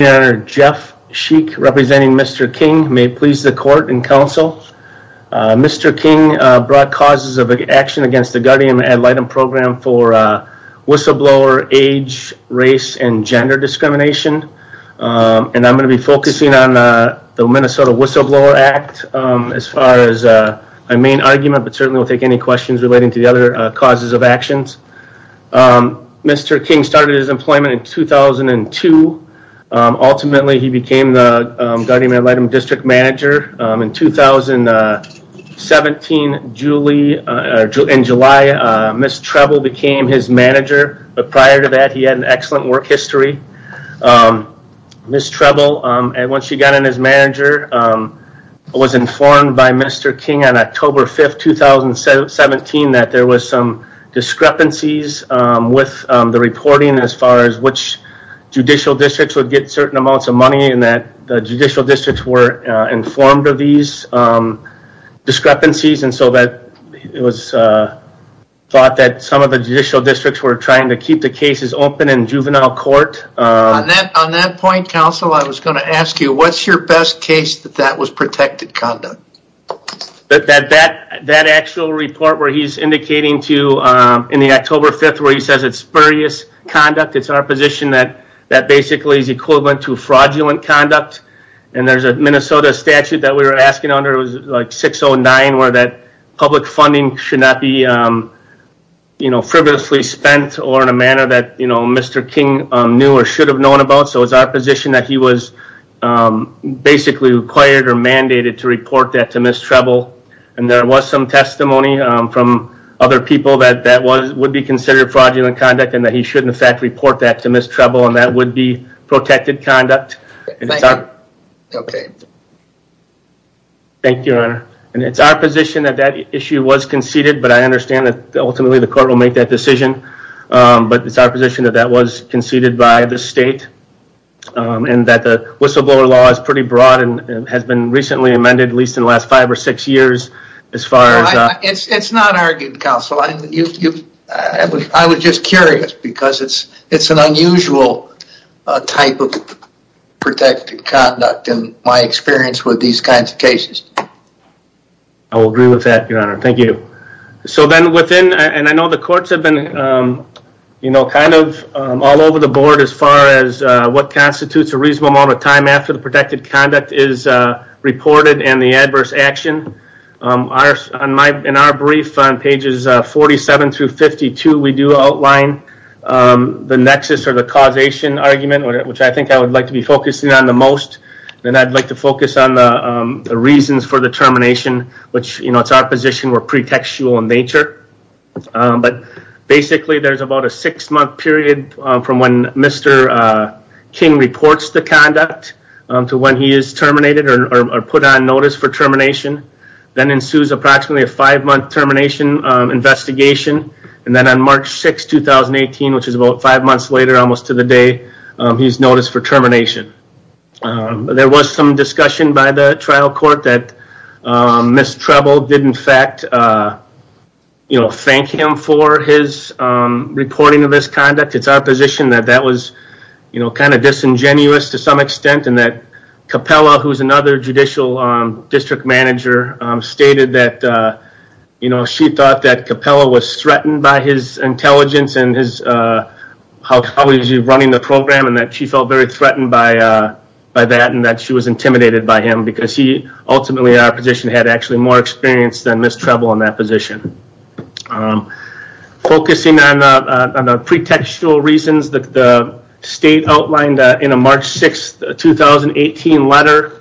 Mayor Jeff Sheik, representing Mr. King, may it please the Court and Council. Mr. King brought causes of action against the Guardian Ad Litem program for whistleblower age, race, and gender discrimination. And I'm going to be focusing on the Minnesota Whistleblower Act as far as my main argument, but certainly will take any questions relating to the other causes of actions. Mr. King started his employment in 2002. Ultimately, he became the Guardian Ad Litem District Manager. In July, Ms. Treble became his manager, but prior to that he had an excellent work history. Ms. Treble, once she got in as manager, was informed by Mr. King in March 2017 that there was some discrepancies with the reporting as far as which judicial districts would get certain amounts of money and that the judicial districts were informed of these discrepancies and so that it was thought that some of the judicial districts were trying to keep the cases open in juvenile court. On that point, Council, I was going to ask you, what's your best case that that was protected conduct? That actual report where he's indicating to you in the October 5th where he says it's spurious conduct, it's our position that that basically is equivalent to fraudulent conduct. And there's a Minnesota statute that we were asking under, it was like 609, where that public funding should not be frivolously spent or in a manner that Mr. King knew or should have known about. So it's our position that he was basically required or mandated to report that to Ms. Treble. And there was some testimony from other people that that would be considered fraudulent conduct and that he should in fact report that to Ms. Treble and that would be protected conduct. Thank you, Your Honor. And it's our position that that issue was conceded, but I understand that ultimately the court will make that decision. But it's our position that that was conceded by the state and that the whistleblower law is pretty broad and has been recently amended at least in the last five or six years as far as... It's not argued, Council. I was just curious because it's an unusual type of protected conduct in my experience with these kinds of cases. I will agree with that, Your Honor. Thank you. So then within, and I know the courts have been, you know, kind of all over the board as far as what constitutes a reasonable amount of time after the protected conduct is reported and the adverse action. In our brief on pages 47 through 52, we do outline the nexus or the causation argument, which I think I would like to be focusing on the most. Then I'd like to focus on the reasons for the termination, which, you know, it's our position we're pretextual in nature. But basically there's about a six-month period from when Mr. King reports the conduct to when he is terminated or put on notice for termination. Then ensues approximately a five-month termination investigation. And then on March 6, 2018, which is about five months later almost to the day, he's noticed for termination. There was some discussion by the trial court that Ms. Treble did in fact, you know, thank him for his reporting of this conduct. It's our position that that was, you know, kind of disingenuous to some extent and that Capella, who's another judicial district manager, stated that, you know, she thought that Capella was threatened by his intelligence and how he was running the program and that she felt threatened by that and that she was intimidated by him because he ultimately in our position had actually more experience than Ms. Treble in that position. Focusing on the pretextual reasons that the state outlined in a March 6, 2018 letter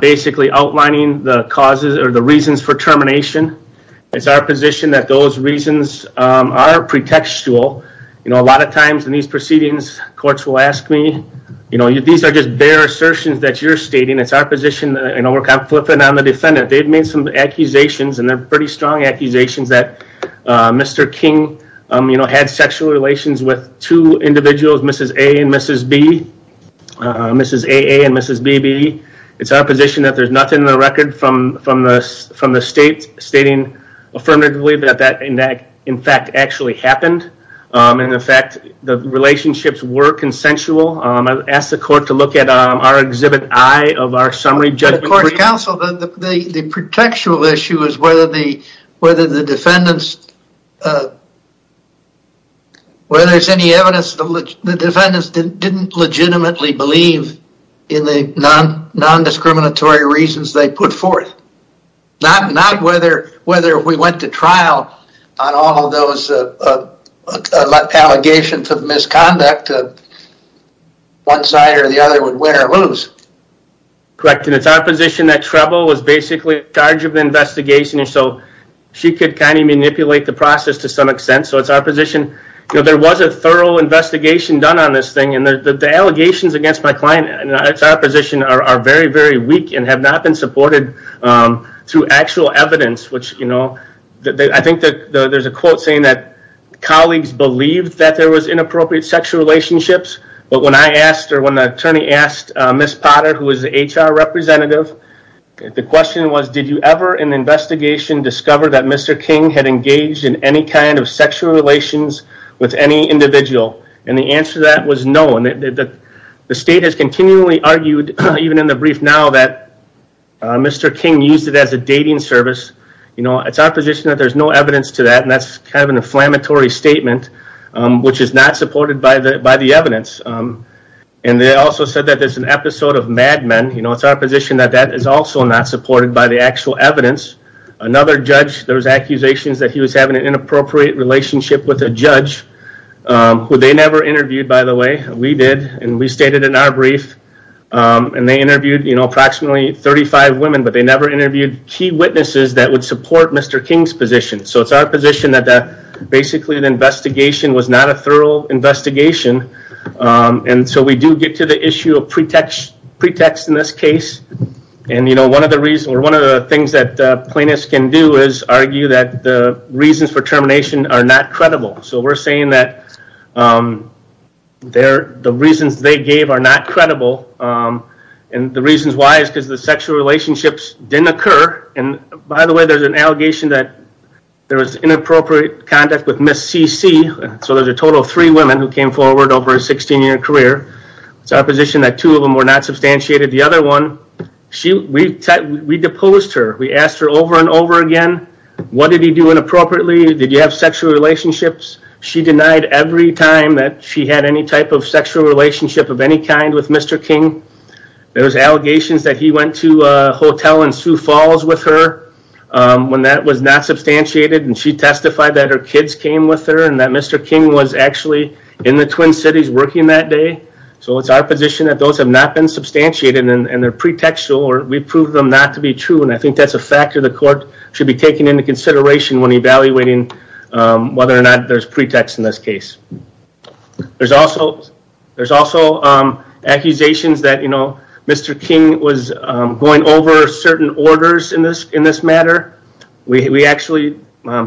basically outlining the causes or the reasons for termination. It's our position that those reasons are pretextual. You know, a lot of times in these proceedings, courts will ask me, you know, these are just bare assertions that you're stating. It's our position, you know, we're kind of flipping on the defendant. They've made some accusations and they're pretty strong accusations that Mr. King, you know, had sexual relations with two individuals, Mrs. A and Mrs. B, Mrs. AA and Mrs. BB. It's our position that there's nothing in the record from the state stating affirmatively that that in fact actually happened. In effect, the relationships were consensual. I asked the court to look at our exhibit I of our summary judgment. The pretextual issue is whether the defendants, whether there's any evidence the defendants didn't legitimately believe in the non-discriminatory reasons they put forth. Not whether we went to trial on all those allegations of misconduct, one side or the other would win or lose. Correct, and it's our position that Treble was basically in charge of the investigation, and so she could kind of manipulate the process to some extent. So it's our position, you know, there was a thorough investigation done on this thing and the allegations against my client, and it's our position, are very, very weak and have not been supported through actual evidence, which, you know, I think that there's a quote saying that colleagues believed that there was inappropriate sexual relationships, but when I asked or when the attorney asked Miss Potter, who was the HR representative, the question was did you ever in the investigation discover that Mr. King had engaged in any kind of sexual relations with any individual, and the answer to that was no, and that the state has continually argued, even in the brief now, that Mr. King used it as a dating service. You know, it's our position that there's no evidence to that, and that's kind of an inflammatory statement, which is not supported by the evidence, and they also said that there's an episode of Mad Men, you know, it's our position that that is also not supported by the actual evidence. Another judge, there was accusations that he was having an inappropriate relationship with a judge, who they never interviewed, by the way. We did, and we stated in our brief, and they interviewed, you know, approximately 35 women, but they never interviewed key witnesses that would support Mr. King's position, so it's our position that basically the investigation was not a thorough investigation, and so we do get to the issue of pretext in this case, and, you know, one of the reasons, or one of the things that reasons for termination are not credible, so we're saying that the reasons they gave are not credible, and the reasons why is because the sexual relationships didn't occur, and by the way, there's an allegation that there was inappropriate contact with Ms. CC, so there's a total of three women who came forward over a 16-year career. It's our position that two of them were not substantiated. The other one, we deposed her. We asked her over and over again, what did he do inappropriately? Did you have sexual relationships? She denied every time that she had any type of sexual relationship of any kind with Mr. King. There was allegations that he went to a hotel in Sioux Falls with her when that was not substantiated, and she testified that her kids came with her, and that Mr. King was actually in the Twin Cities working that day, so it's our position that those have not been substantiated, and they're pretextual, or we proved them not to be true, and I think that's a factor the court should be taking into consideration when evaluating whether or not there's pretext in this case. There's also accusations that Mr. King was going over certain orders in this matter. We actually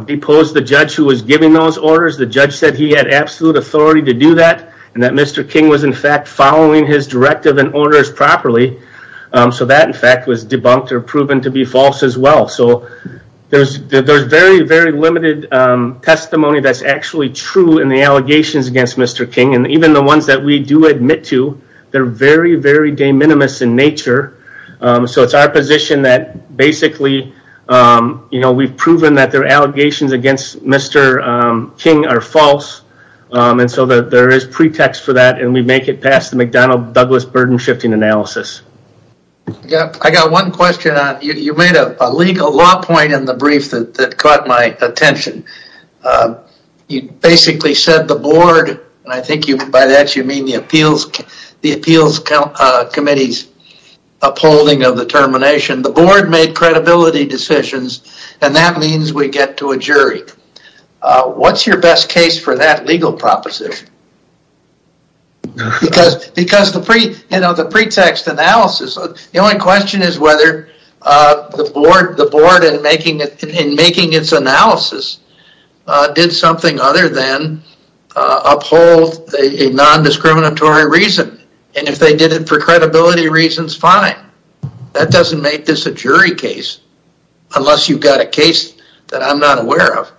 deposed the judge who was giving those orders. The judge said he had authority to do that, and that Mr. King was, in fact, following his directive and orders properly, so that, in fact, was debunked or proven to be false as well, so there's very, very limited testimony that's actually true in the allegations against Mr. King, and even the ones that we do admit to, they're very, very de minimis in nature, so it's our position that basically we've proven that their allegations against Mr. King are false, and so that there is pretext for that, and we make it past the McDonnell-Douglas burden-shifting analysis. I got one question. You made a legal law point in the brief that caught my attention. You basically said the board, and I think by that you mean the appeals committee's upholding of the termination, the board made credibility decisions, and that means we get to a jury. What's your best case for that legal proposition? Because the pretext analysis, the only question is whether the board in making its analysis did something other than uphold a non-discriminatory reason, and if they did it for credibility reasons, fine. That doesn't make this a jury case unless you've got a case that I'm not aware of.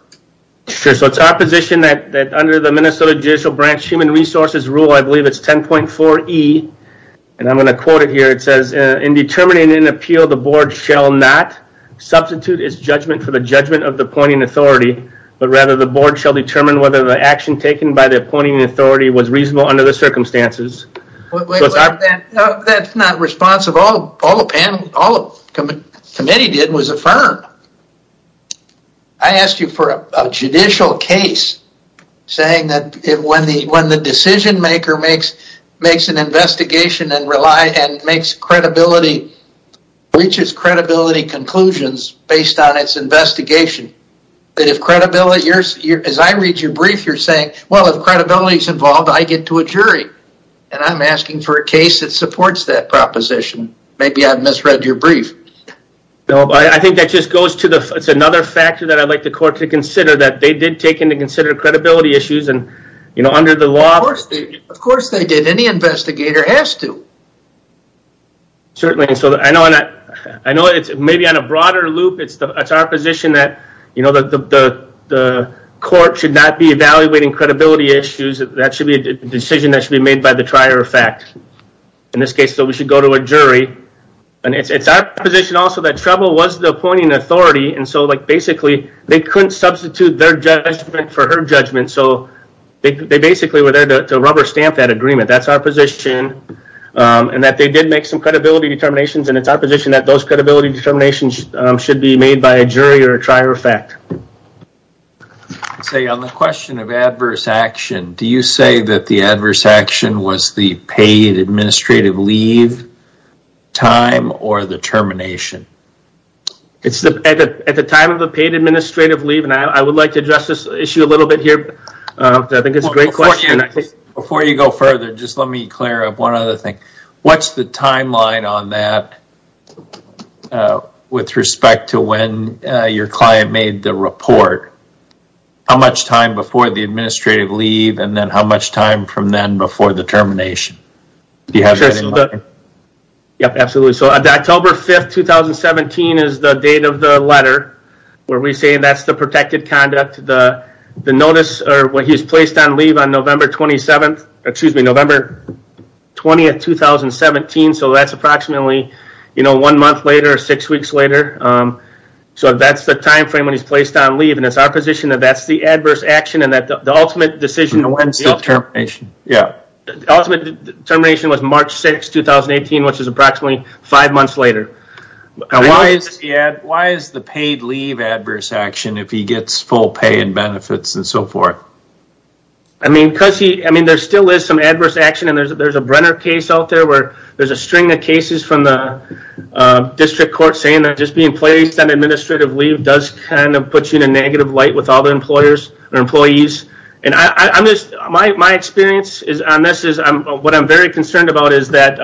Sure, so it's our position that under the Minnesota Judicial Branch Human Resources Rule, I believe it's 10.4e, and I'm going to quote it here. It says, in determining an appeal, the board shall not substitute its judgment for the judgment of the appointing authority, but rather the board shall determine whether the action taken by the appointing authority was reasonable under the circumstances. That's not responsive. All the committee did was affirm. I asked you for a judicial case saying that when the decision maker makes an investigation and makes credibility, reaches credibility conclusions based on its investigation, that if credibility, as I read your brief, you're saying, well, if credibility is involved, I get to a jury, and I'm asking for a case that supports that proposition. Maybe I've misread your brief. No, I think that just goes to the, it's another factor that I'd like the court to consider that they did take into consider credibility issues, and you know, under the law. Of course they did. Any investigator has to. Certainly, so I know it's maybe on a broader loop. It's our position that, you know, the court should not be evaluating credibility issues. That should be a decision that should be made by the trier of fact. In this case, we should go to a jury, and it's our position also that trouble was the appointing authority, and so like basically they couldn't substitute their judgment for her judgment, so they basically were there to rubber stamp that agreement. That's our did make some credibility determinations, and it's our position that those credibility determinations should be made by a jury or a trier of fact. Say on the question of adverse action, do you say that the adverse action was the paid administrative leave time or the termination? It's at the time of the paid administrative leave, and I would like to address this issue a little bit here. I think it's a great question. Before you go further, just let me clear up one other thing. What's the timeline on that with respect to when your client made the report? How much time before the administrative leave, and then how much time from then before the termination? Do you have that in mind? Yep, absolutely. So October 5th, 2017 is the date of the letter where we say that's the conduct. The notice or when he was placed on leave on November 27th, excuse me, November 20th, 2017, so that's approximately one month later or six weeks later. So that's the time frame when he's placed on leave, and it's our position that that's the adverse action, and that the ultimate decision when the ultimate termination was March 6th, 2018, which is when he gets full pay and benefits and so forth. I mean, there still is some adverse action, and there's a Brenner case out there where there's a string of cases from the district court saying that just being placed on administrative leave does kind of put you in a negative light with all the employers or employees. My experience on this is what I'm very concerned about is that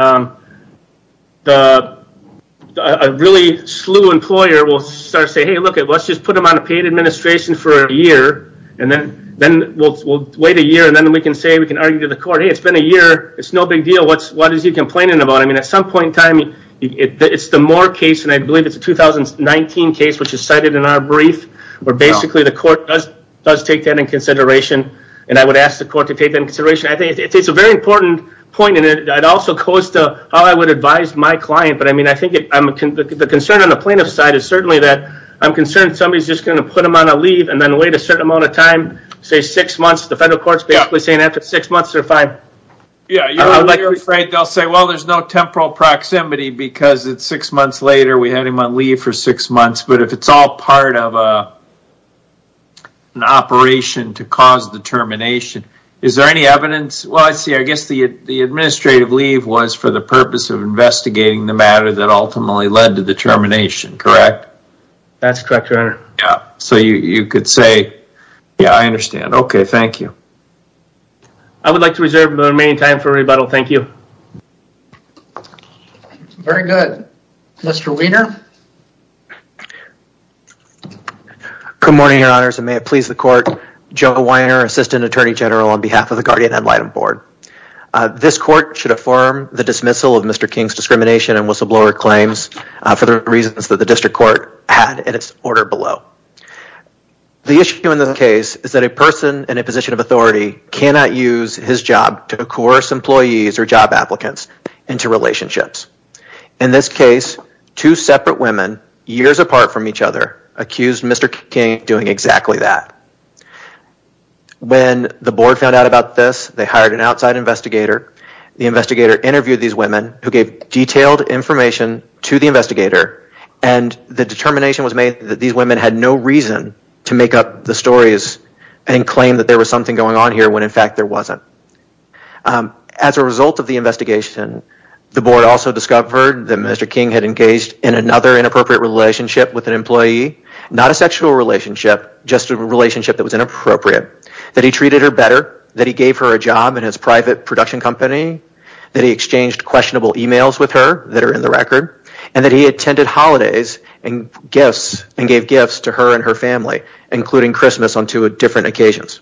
a really slew employer will start saying, hey, look, let's just put him on a paid administration for a year, and then we'll wait a year, and then we can say, we can argue to the court, hey, it's been a year. It's no big deal. What is he complaining about? I mean, at some point in time, it's the Moore case, and I believe it's a 2019 case, which is cited in our brief, where basically the court does take that in consideration, and I would ask the court to take that in consideration. I think it's a very important point, and it also goes to how I would advise my client, but I mean, I think the concern on the plaintiff's side is certainly that I'm concerned somebody's just going to put him on a leave and then wait a certain amount of time, say six months. The federal court's basically saying after six months, they're fine. Yeah, you're afraid they'll say, well, there's no temporal proximity because it's six months later. We had him on leave for six months, but if it's all part of an operation to cause the termination, is there any evidence? Well, I see. I guess the administrative leave was for the purpose of investigating the matter that ultimately led to the termination, correct? That's correct, your honor. Yeah, so you could say, yeah, I understand. Okay, thank you. I would like to reserve the remaining time for rebuttal. Thank you. Very good. Mr. Wiener. Good morning, your honors, and may it please the court. Joe Wiener, Assistant Attorney General on Mr. King's discrimination and whistleblower claims for the reasons that the district court had in its order below. The issue in this case is that a person in a position of authority cannot use his job to coerce employees or job applicants into relationships. In this case, two separate women, years apart from each other, accused Mr. King of doing exactly that. When the board found out about this, they hired an outside investigator. The investigator interviewed these women who gave detailed information to the investigator, and the determination was made that these women had no reason to make up the stories and claim that there was something going on here when in fact there wasn't. As a result of the investigation, the board also discovered that Mr. King had engaged in another inappropriate relationship with an employee, not a sexual relationship, just a relationship that was inappropriate, that he treated her better, that he gave her a job in his private production company, that he exchanged questionable emails with her that are in the record, and that he attended holidays and gifts and gave gifts to her and her family, including Christmas on two different occasions.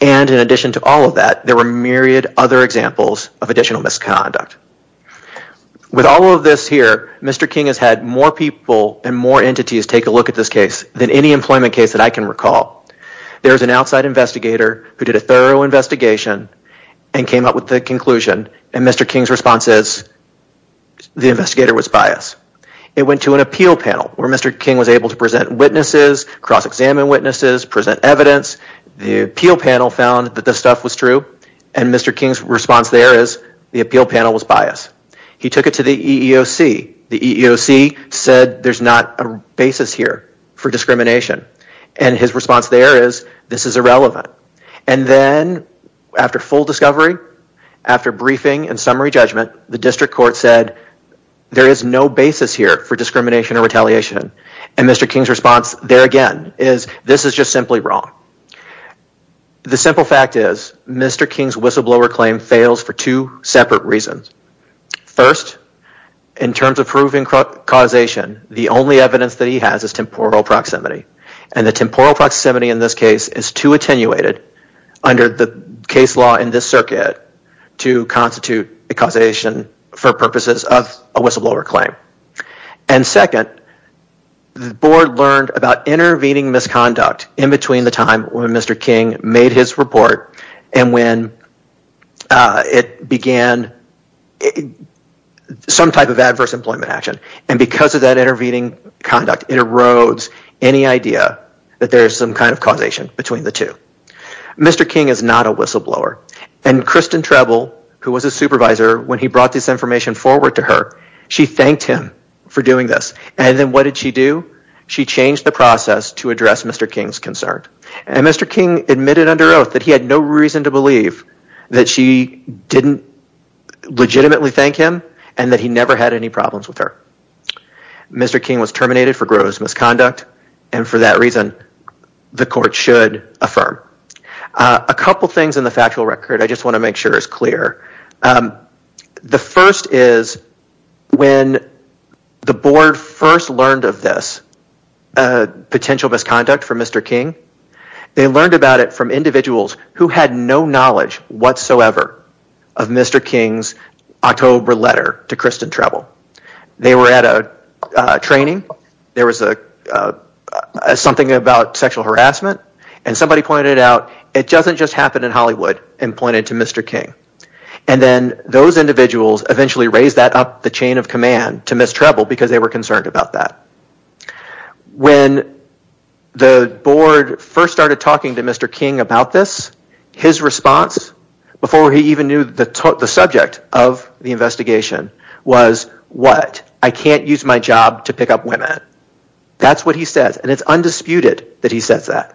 And in addition to all of that, there were myriad other examples of additional misconduct. With all of this here, Mr. King has had more people and more entities take a look at this case than any employment case that I can recall. There is an outside investigator who did a thorough investigation and came up with the conclusion, and Mr. King's response is the investigator was biased. It went to an appeal panel where Mr. King was able to present witnesses, cross-examine witnesses, present evidence. The appeal panel found that this stuff was true, and Mr. King's response there is the appeal panel was biased. He took it to the EEOC. The EEOC said there's not a basis here for discrimination, and his response there is this is irrelevant. And then after full discovery, after briefing and summary judgment, the district court said there is no basis here for discrimination or retaliation. And Mr. King's response there again is this is just simply wrong. The simple fact is Mr. King's whistleblower claim fails for two the only evidence that he has is temporal proximity, and the temporal proximity in this case is too attenuated under the case law in this circuit to constitute a causation for purposes of a whistleblower claim. And second, the board learned about intervening misconduct in between the time when Mr. King made his report and when it began some type of adverse employment action, and because of that intervening conduct, it erodes any idea that there's some kind of causation between the two. Mr. King is not a whistleblower, and Kristen Trebl, who was a supervisor when he brought this information forward to her, she thanked him for doing this. And then what did she do? She changed the process to address Mr. King's concern. And Mr. King admitted under oath that he had no reason to believe that she didn't legitimately thank him and that he never had any reason to believe her. Mr. King was terminated for gross misconduct, and for that reason, the court should affirm. A couple things in the factual record I just want to make sure is clear. The first is when the board first learned of this potential misconduct from Mr. King, they learned about it from individuals who had no knowledge whatsoever of Mr. King's October letter to Kristen Trebl. They were at a training, there was something about sexual harassment, and somebody pointed out, it doesn't just happen in Hollywood, and pointed to Mr. King. And then those individuals eventually raised that up the chain of command to Ms. Trebl because they were concerned about that. When the board first started talking to Mr. King about this, his response, before he even knew the subject of the investigation, was, what, I can't use my job to pick up women. That's what he says, and it's undisputed that he says that.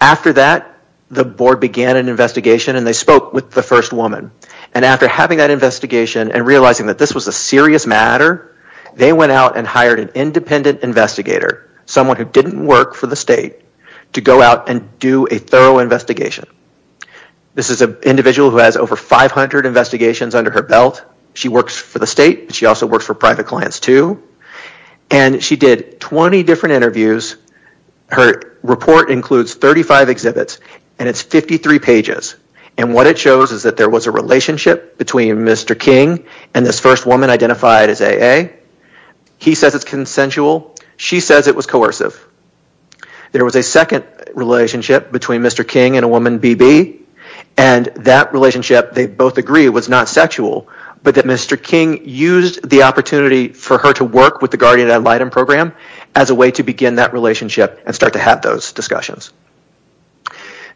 After that, the board began an investigation and they spoke with the first woman. And after having that investigation and realizing that this was a serious matter, they went out and hired an independent investigator, someone who didn't work for the state, to go out and do a thorough investigation. This is an individual who has over 500 investigations under her belt. She works for the state, but she also works for private clients too. And she did 20 different interviews. Her report includes 35 exhibits and it's 53 pages. And what it shows is that there was a relationship between Mr. King and this first woman identified as AA. He says it's consensual. She says it was coercive. There was a second relationship between Mr. King and a woman, BB, and that relationship, they both agree, was not sexual, but that Mr. King used the opportunity for her to work with the Guardian Ad Litem program as a way to begin that relationship and start to have those discussions.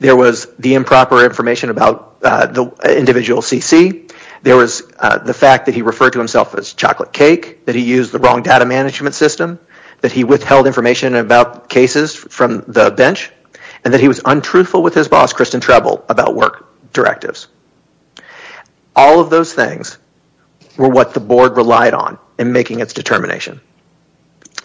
There was the improper information about the wrong data management system, that he withheld information about cases from the bench, and that he was untruthful with his boss, Kristen Trebl, about work directives. All of those things were what the board relied on in making its determination.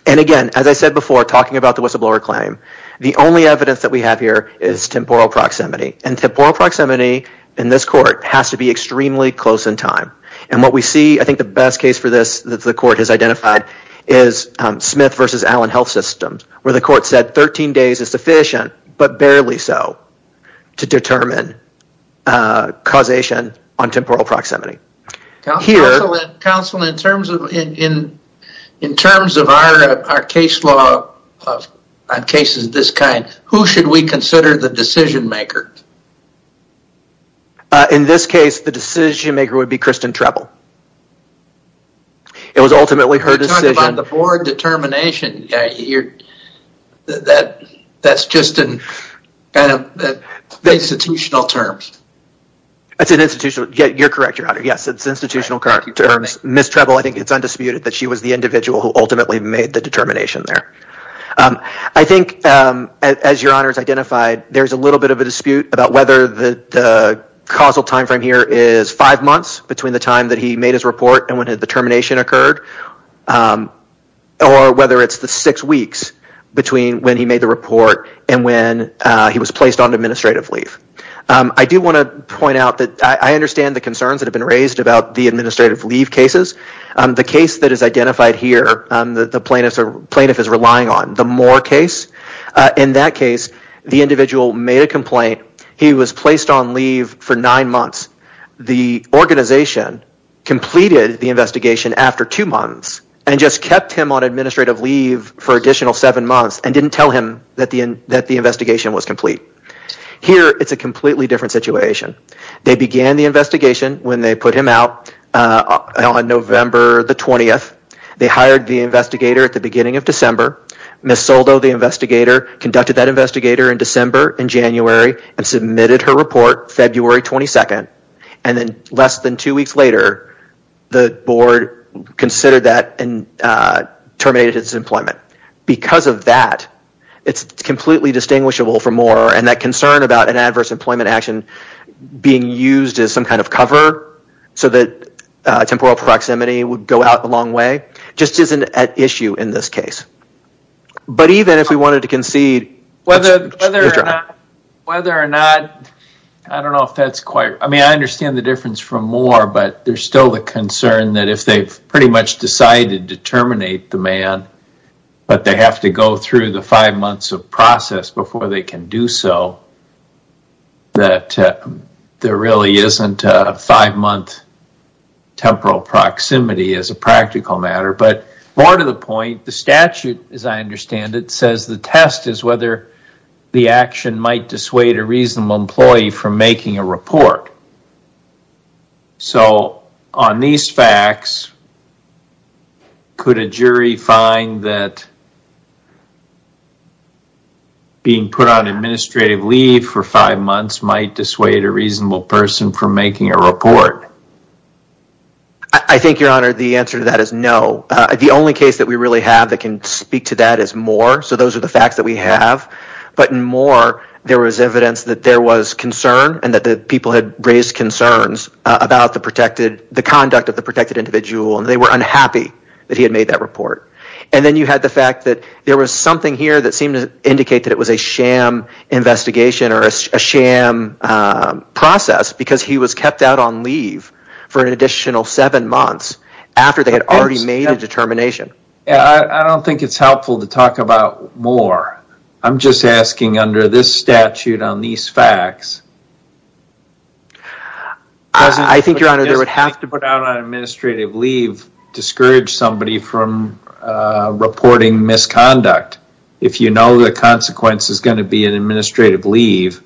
And again, as I said before, talking about the whistleblower claim, the only evidence that we have here is temporal proximity. And temporal proximity in this court has to be extremely close in time. And what we see, I think the best case for this that the court has identified, is Smith v. Allen Health Systems, where the court said 13 days is sufficient, but barely so, to determine causation on temporal proximity. Counsel, in terms of our case law on cases of this kind, who should we consider the It was ultimately her decision. You're talking about the board determination. That's just in institutional terms. That's an institutional, you're correct, Your Honor. Yes, it's institutional terms. Ms. Trebl, I think it's undisputed that she was the individual who ultimately made the determination there. I think, as Your Honor has identified, there's a little bit of a dispute about whether the causal time frame here is five and when the determination occurred, or whether it's the six weeks between when he made the report and when he was placed on administrative leave. I do want to point out that I understand the concerns that have been raised about the administrative leave cases. The case that is identified here, the plaintiff is relying on, the Moore case. In that case, the individual made a complaint. He was placed on leave for nine months. The organization completed the investigation after two months and just kept him on administrative leave for additional seven months and didn't tell him that the investigation was complete. Here, it's a completely different situation. They began the investigation when they put him out on November the 20th. They hired the investigator at the beginning of December. Ms. Soldo, the investigator, conducted that and submitted her report February 22nd. Then, less than two weeks later, the board considered that and terminated his employment. Because of that, it's completely distinguishable for Moore. That concern about an adverse employment action being used as some kind of cover so that temporal proximity would go out a long way just isn't at issue in this case. But even if we wanted to concede... Whether or not, I don't know if that's quite... I mean, I understand the difference from Moore, but there's still the concern that if they've pretty much decided to terminate the man, but they have to go through the five months of process before they can do so, that there really isn't a five-month temporal proximity as a practical matter. More to the point, the statute, as I understand it, says the test is whether the action might dissuade a reasonable employee from making a report. On these facts, could a jury find that being put on administrative leave for five months might dissuade a reasonable person from making a report? The only case that we really have that can speak to that is Moore, so those are the facts that we have. But in Moore, there was evidence that there was concern and that the people had raised concerns about the conduct of the protected individual, and they were unhappy that he had made that report. And then you had the fact that there was something here that seemed to indicate that it was a sham investigation or a sham process because he was kept out on leave for an additional seven months after they had already made a determination. I don't think it's helpful to talk about Moore. I'm just asking under this statute on these facts, I think your honor, there would have to be an administrative leave to discourage somebody from reporting misconduct. If you know the consequence is going to be an administrative leave,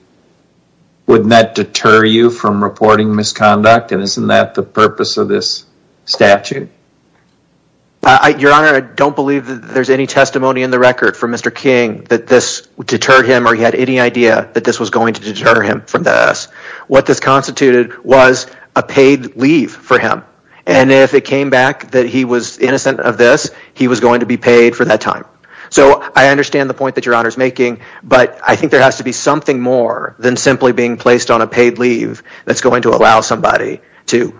wouldn't that deter you from reporting misconduct? And isn't that the purpose of this statute? Your honor, I don't believe that there's any testimony in the record from Mr. King that this deterred him or he had any idea that this was going to deter him from this. What this constituted was a paid leave for him, and if it came back that he was innocent of this, he was going to be paid for that time. So I understand the point that your honor is making, but I think there has to be something more than simply being placed on a paid leave that's going to allow somebody to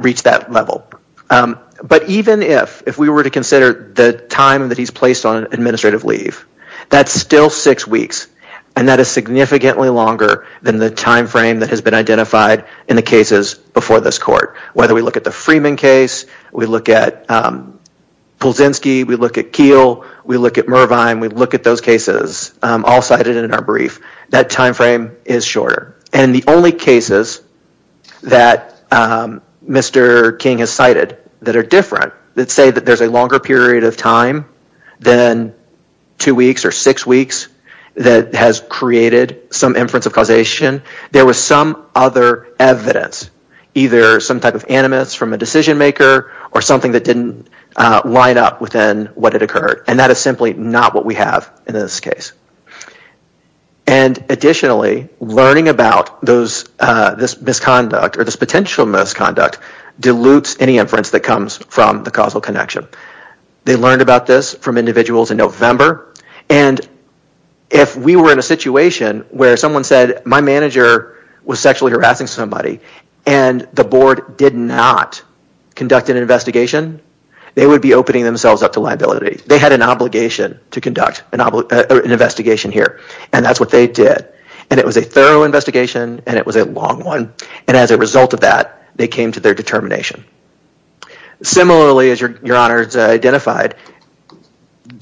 reach that level. But even if we were to consider the time that he's placed on an administrative leave, that's still six weeks, and that is significantly longer than the time frame that has been identified in the cases before this court. Whether we look at the Freeman case, we look at Pulzinski, we look at Keel, we look at Mervine, we look at those cases all cited in our brief, that time frame is shorter. And the only cases that Mr. King has cited that are different that say that there's a longer period of time than two weeks or six weeks that has created some inference of causation, there was some other evidence, either some type of animus from a decision maker or something that didn't line up within what had occurred. And that is simply not what we have in this case. And additionally, learning about this misconduct or this potential misconduct dilutes any inference that comes from the causal connection. They learned about this from individuals in November, and if we were in a situation where someone said, my manager was sexually harassing somebody, and the board did not conduct an investigation, they would be opening themselves up to liability. They had an obligation to conduct an investigation here, and that's what they did. And it was a thorough investigation, and it was a long one, and as a result of that, they came to their determination. Similarly, as your honor has identified,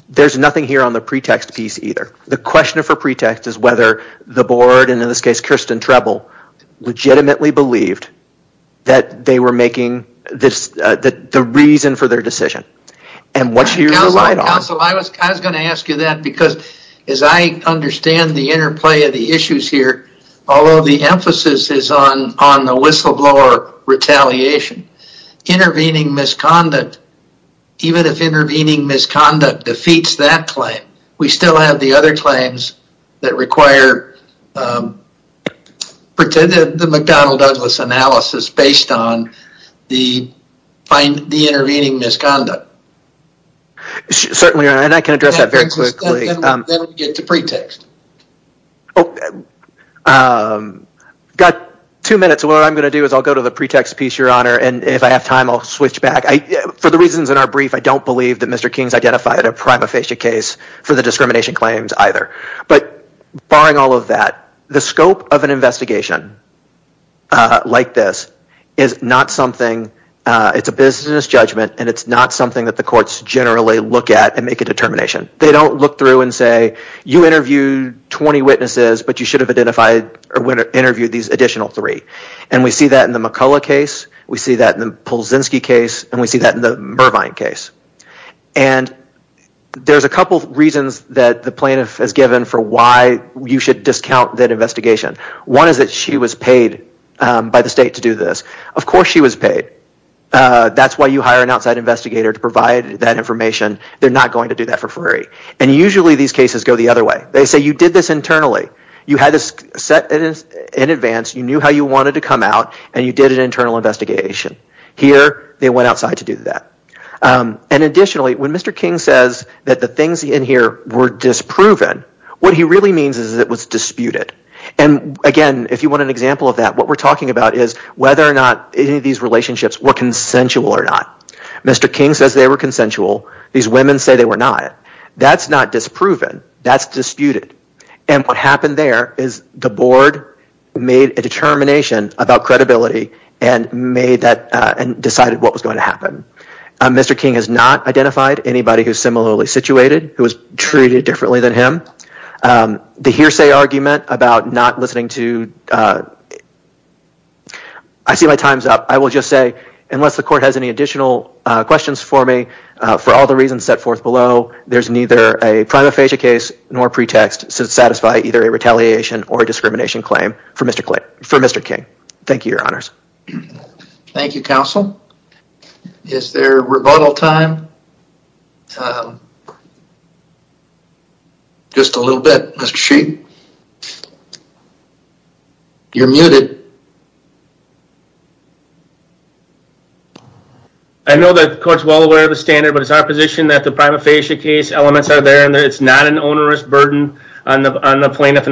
there's nothing here on the pretext piece either. The question for pretext is whether the board, and in this case Kirsten Trebl, legitimately believed that they were making the reason for their decision. And what you relied on... Counsel, I was going to ask you that because as I understand the interplay of the issues here, although the emphasis is on the whistleblower retaliation, intervening misconduct, even if intervening misconduct defeats that claim, we still have the other claims that require the McDonnell-Douglas analysis based on the intervening misconduct. Certainly, and I can address that very quickly. Then we get to pretext. Got two minutes, so what I'm going to do is I'll go to the pretext piece, your honor, and if I have time, I'll switch back. For the reasons in our brief, I don't believe Mr. King's identified a prima facie case for the discrimination claims either. But barring all of that, the scope of an investigation like this is not something, it's a business judgment, and it's not something that the courts generally look at and make a determination. They don't look through and say, you interviewed 20 witnesses, but you should have interviewed these additional three. And we see that in the McCullough case, we see that in the Mervine case. And there's a couple of reasons that the plaintiff has given for why you should discount that investigation. One is that she was paid by the state to do this. Of course she was paid. That's why you hire an outside investigator to provide that information. They're not going to do that for free. And usually these cases go the other way. They say you did this internally. You had this set in advance, you knew how you wanted to come out, and you did an internal investigation. Here they went outside to do that. And additionally, when Mr. King says that the things in here were disproven, what he really means is it was disputed. And again, if you want an example of that, what we're talking about is whether or not any of these relationships were consensual or not. Mr. King says they were consensual. These women say they were not. That's not disproven. That's disputed. And what happened there is the board made a determination about credibility and decided what was going to happen. Mr. King has not identified anybody who's similarly situated, who was treated differently than him. The hearsay argument about not listening to... I see my time's up. I will just say, unless the court has any additional questions for me, for all the reasons set forth below, there's neither a prima facie case nor pretext to satisfy either a retaliation or discrimination claim for Mr. King. Thank you, your honors. Thank you, counsel. Is there rebuttal time? Just a little bit, Mr. Sheehan. You're muted. I know that the court's well aware of the standard, but it's our position that the prima facie case was not fair.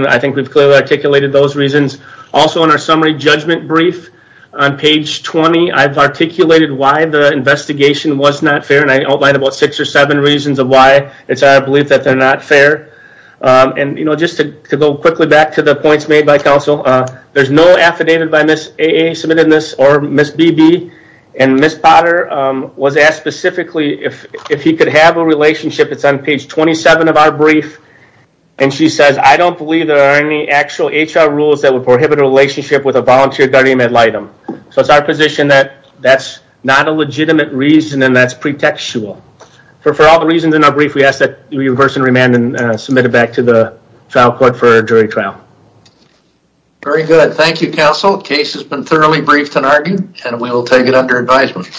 I think we've clearly articulated those reasons. Also in our summary judgment brief on page 20, I've articulated why the investigation was not fair, and I outlined about six or seven reasons of why it's our belief that they're not fair. And, you know, just to go quickly back to the points made by counsel, there's no affidavit by Ms. AA submitted in this, or Ms. BB, and Ms. Potter was asked specifically if he could have a relationship. It's on page 27 of our brief, and she says, I don't believe there are any actual HR rules that would prohibit a relationship with a volunteer guardian ad litem. So it's our position that that's not a legitimate reason and that's pretextual. For all the reasons in our brief, we ask that you reverse and remand and submit it back to the trial court for a jury trial. Very good. Thank you, counsel. The case has been thoroughly briefed and argued, and we will take it under advisement.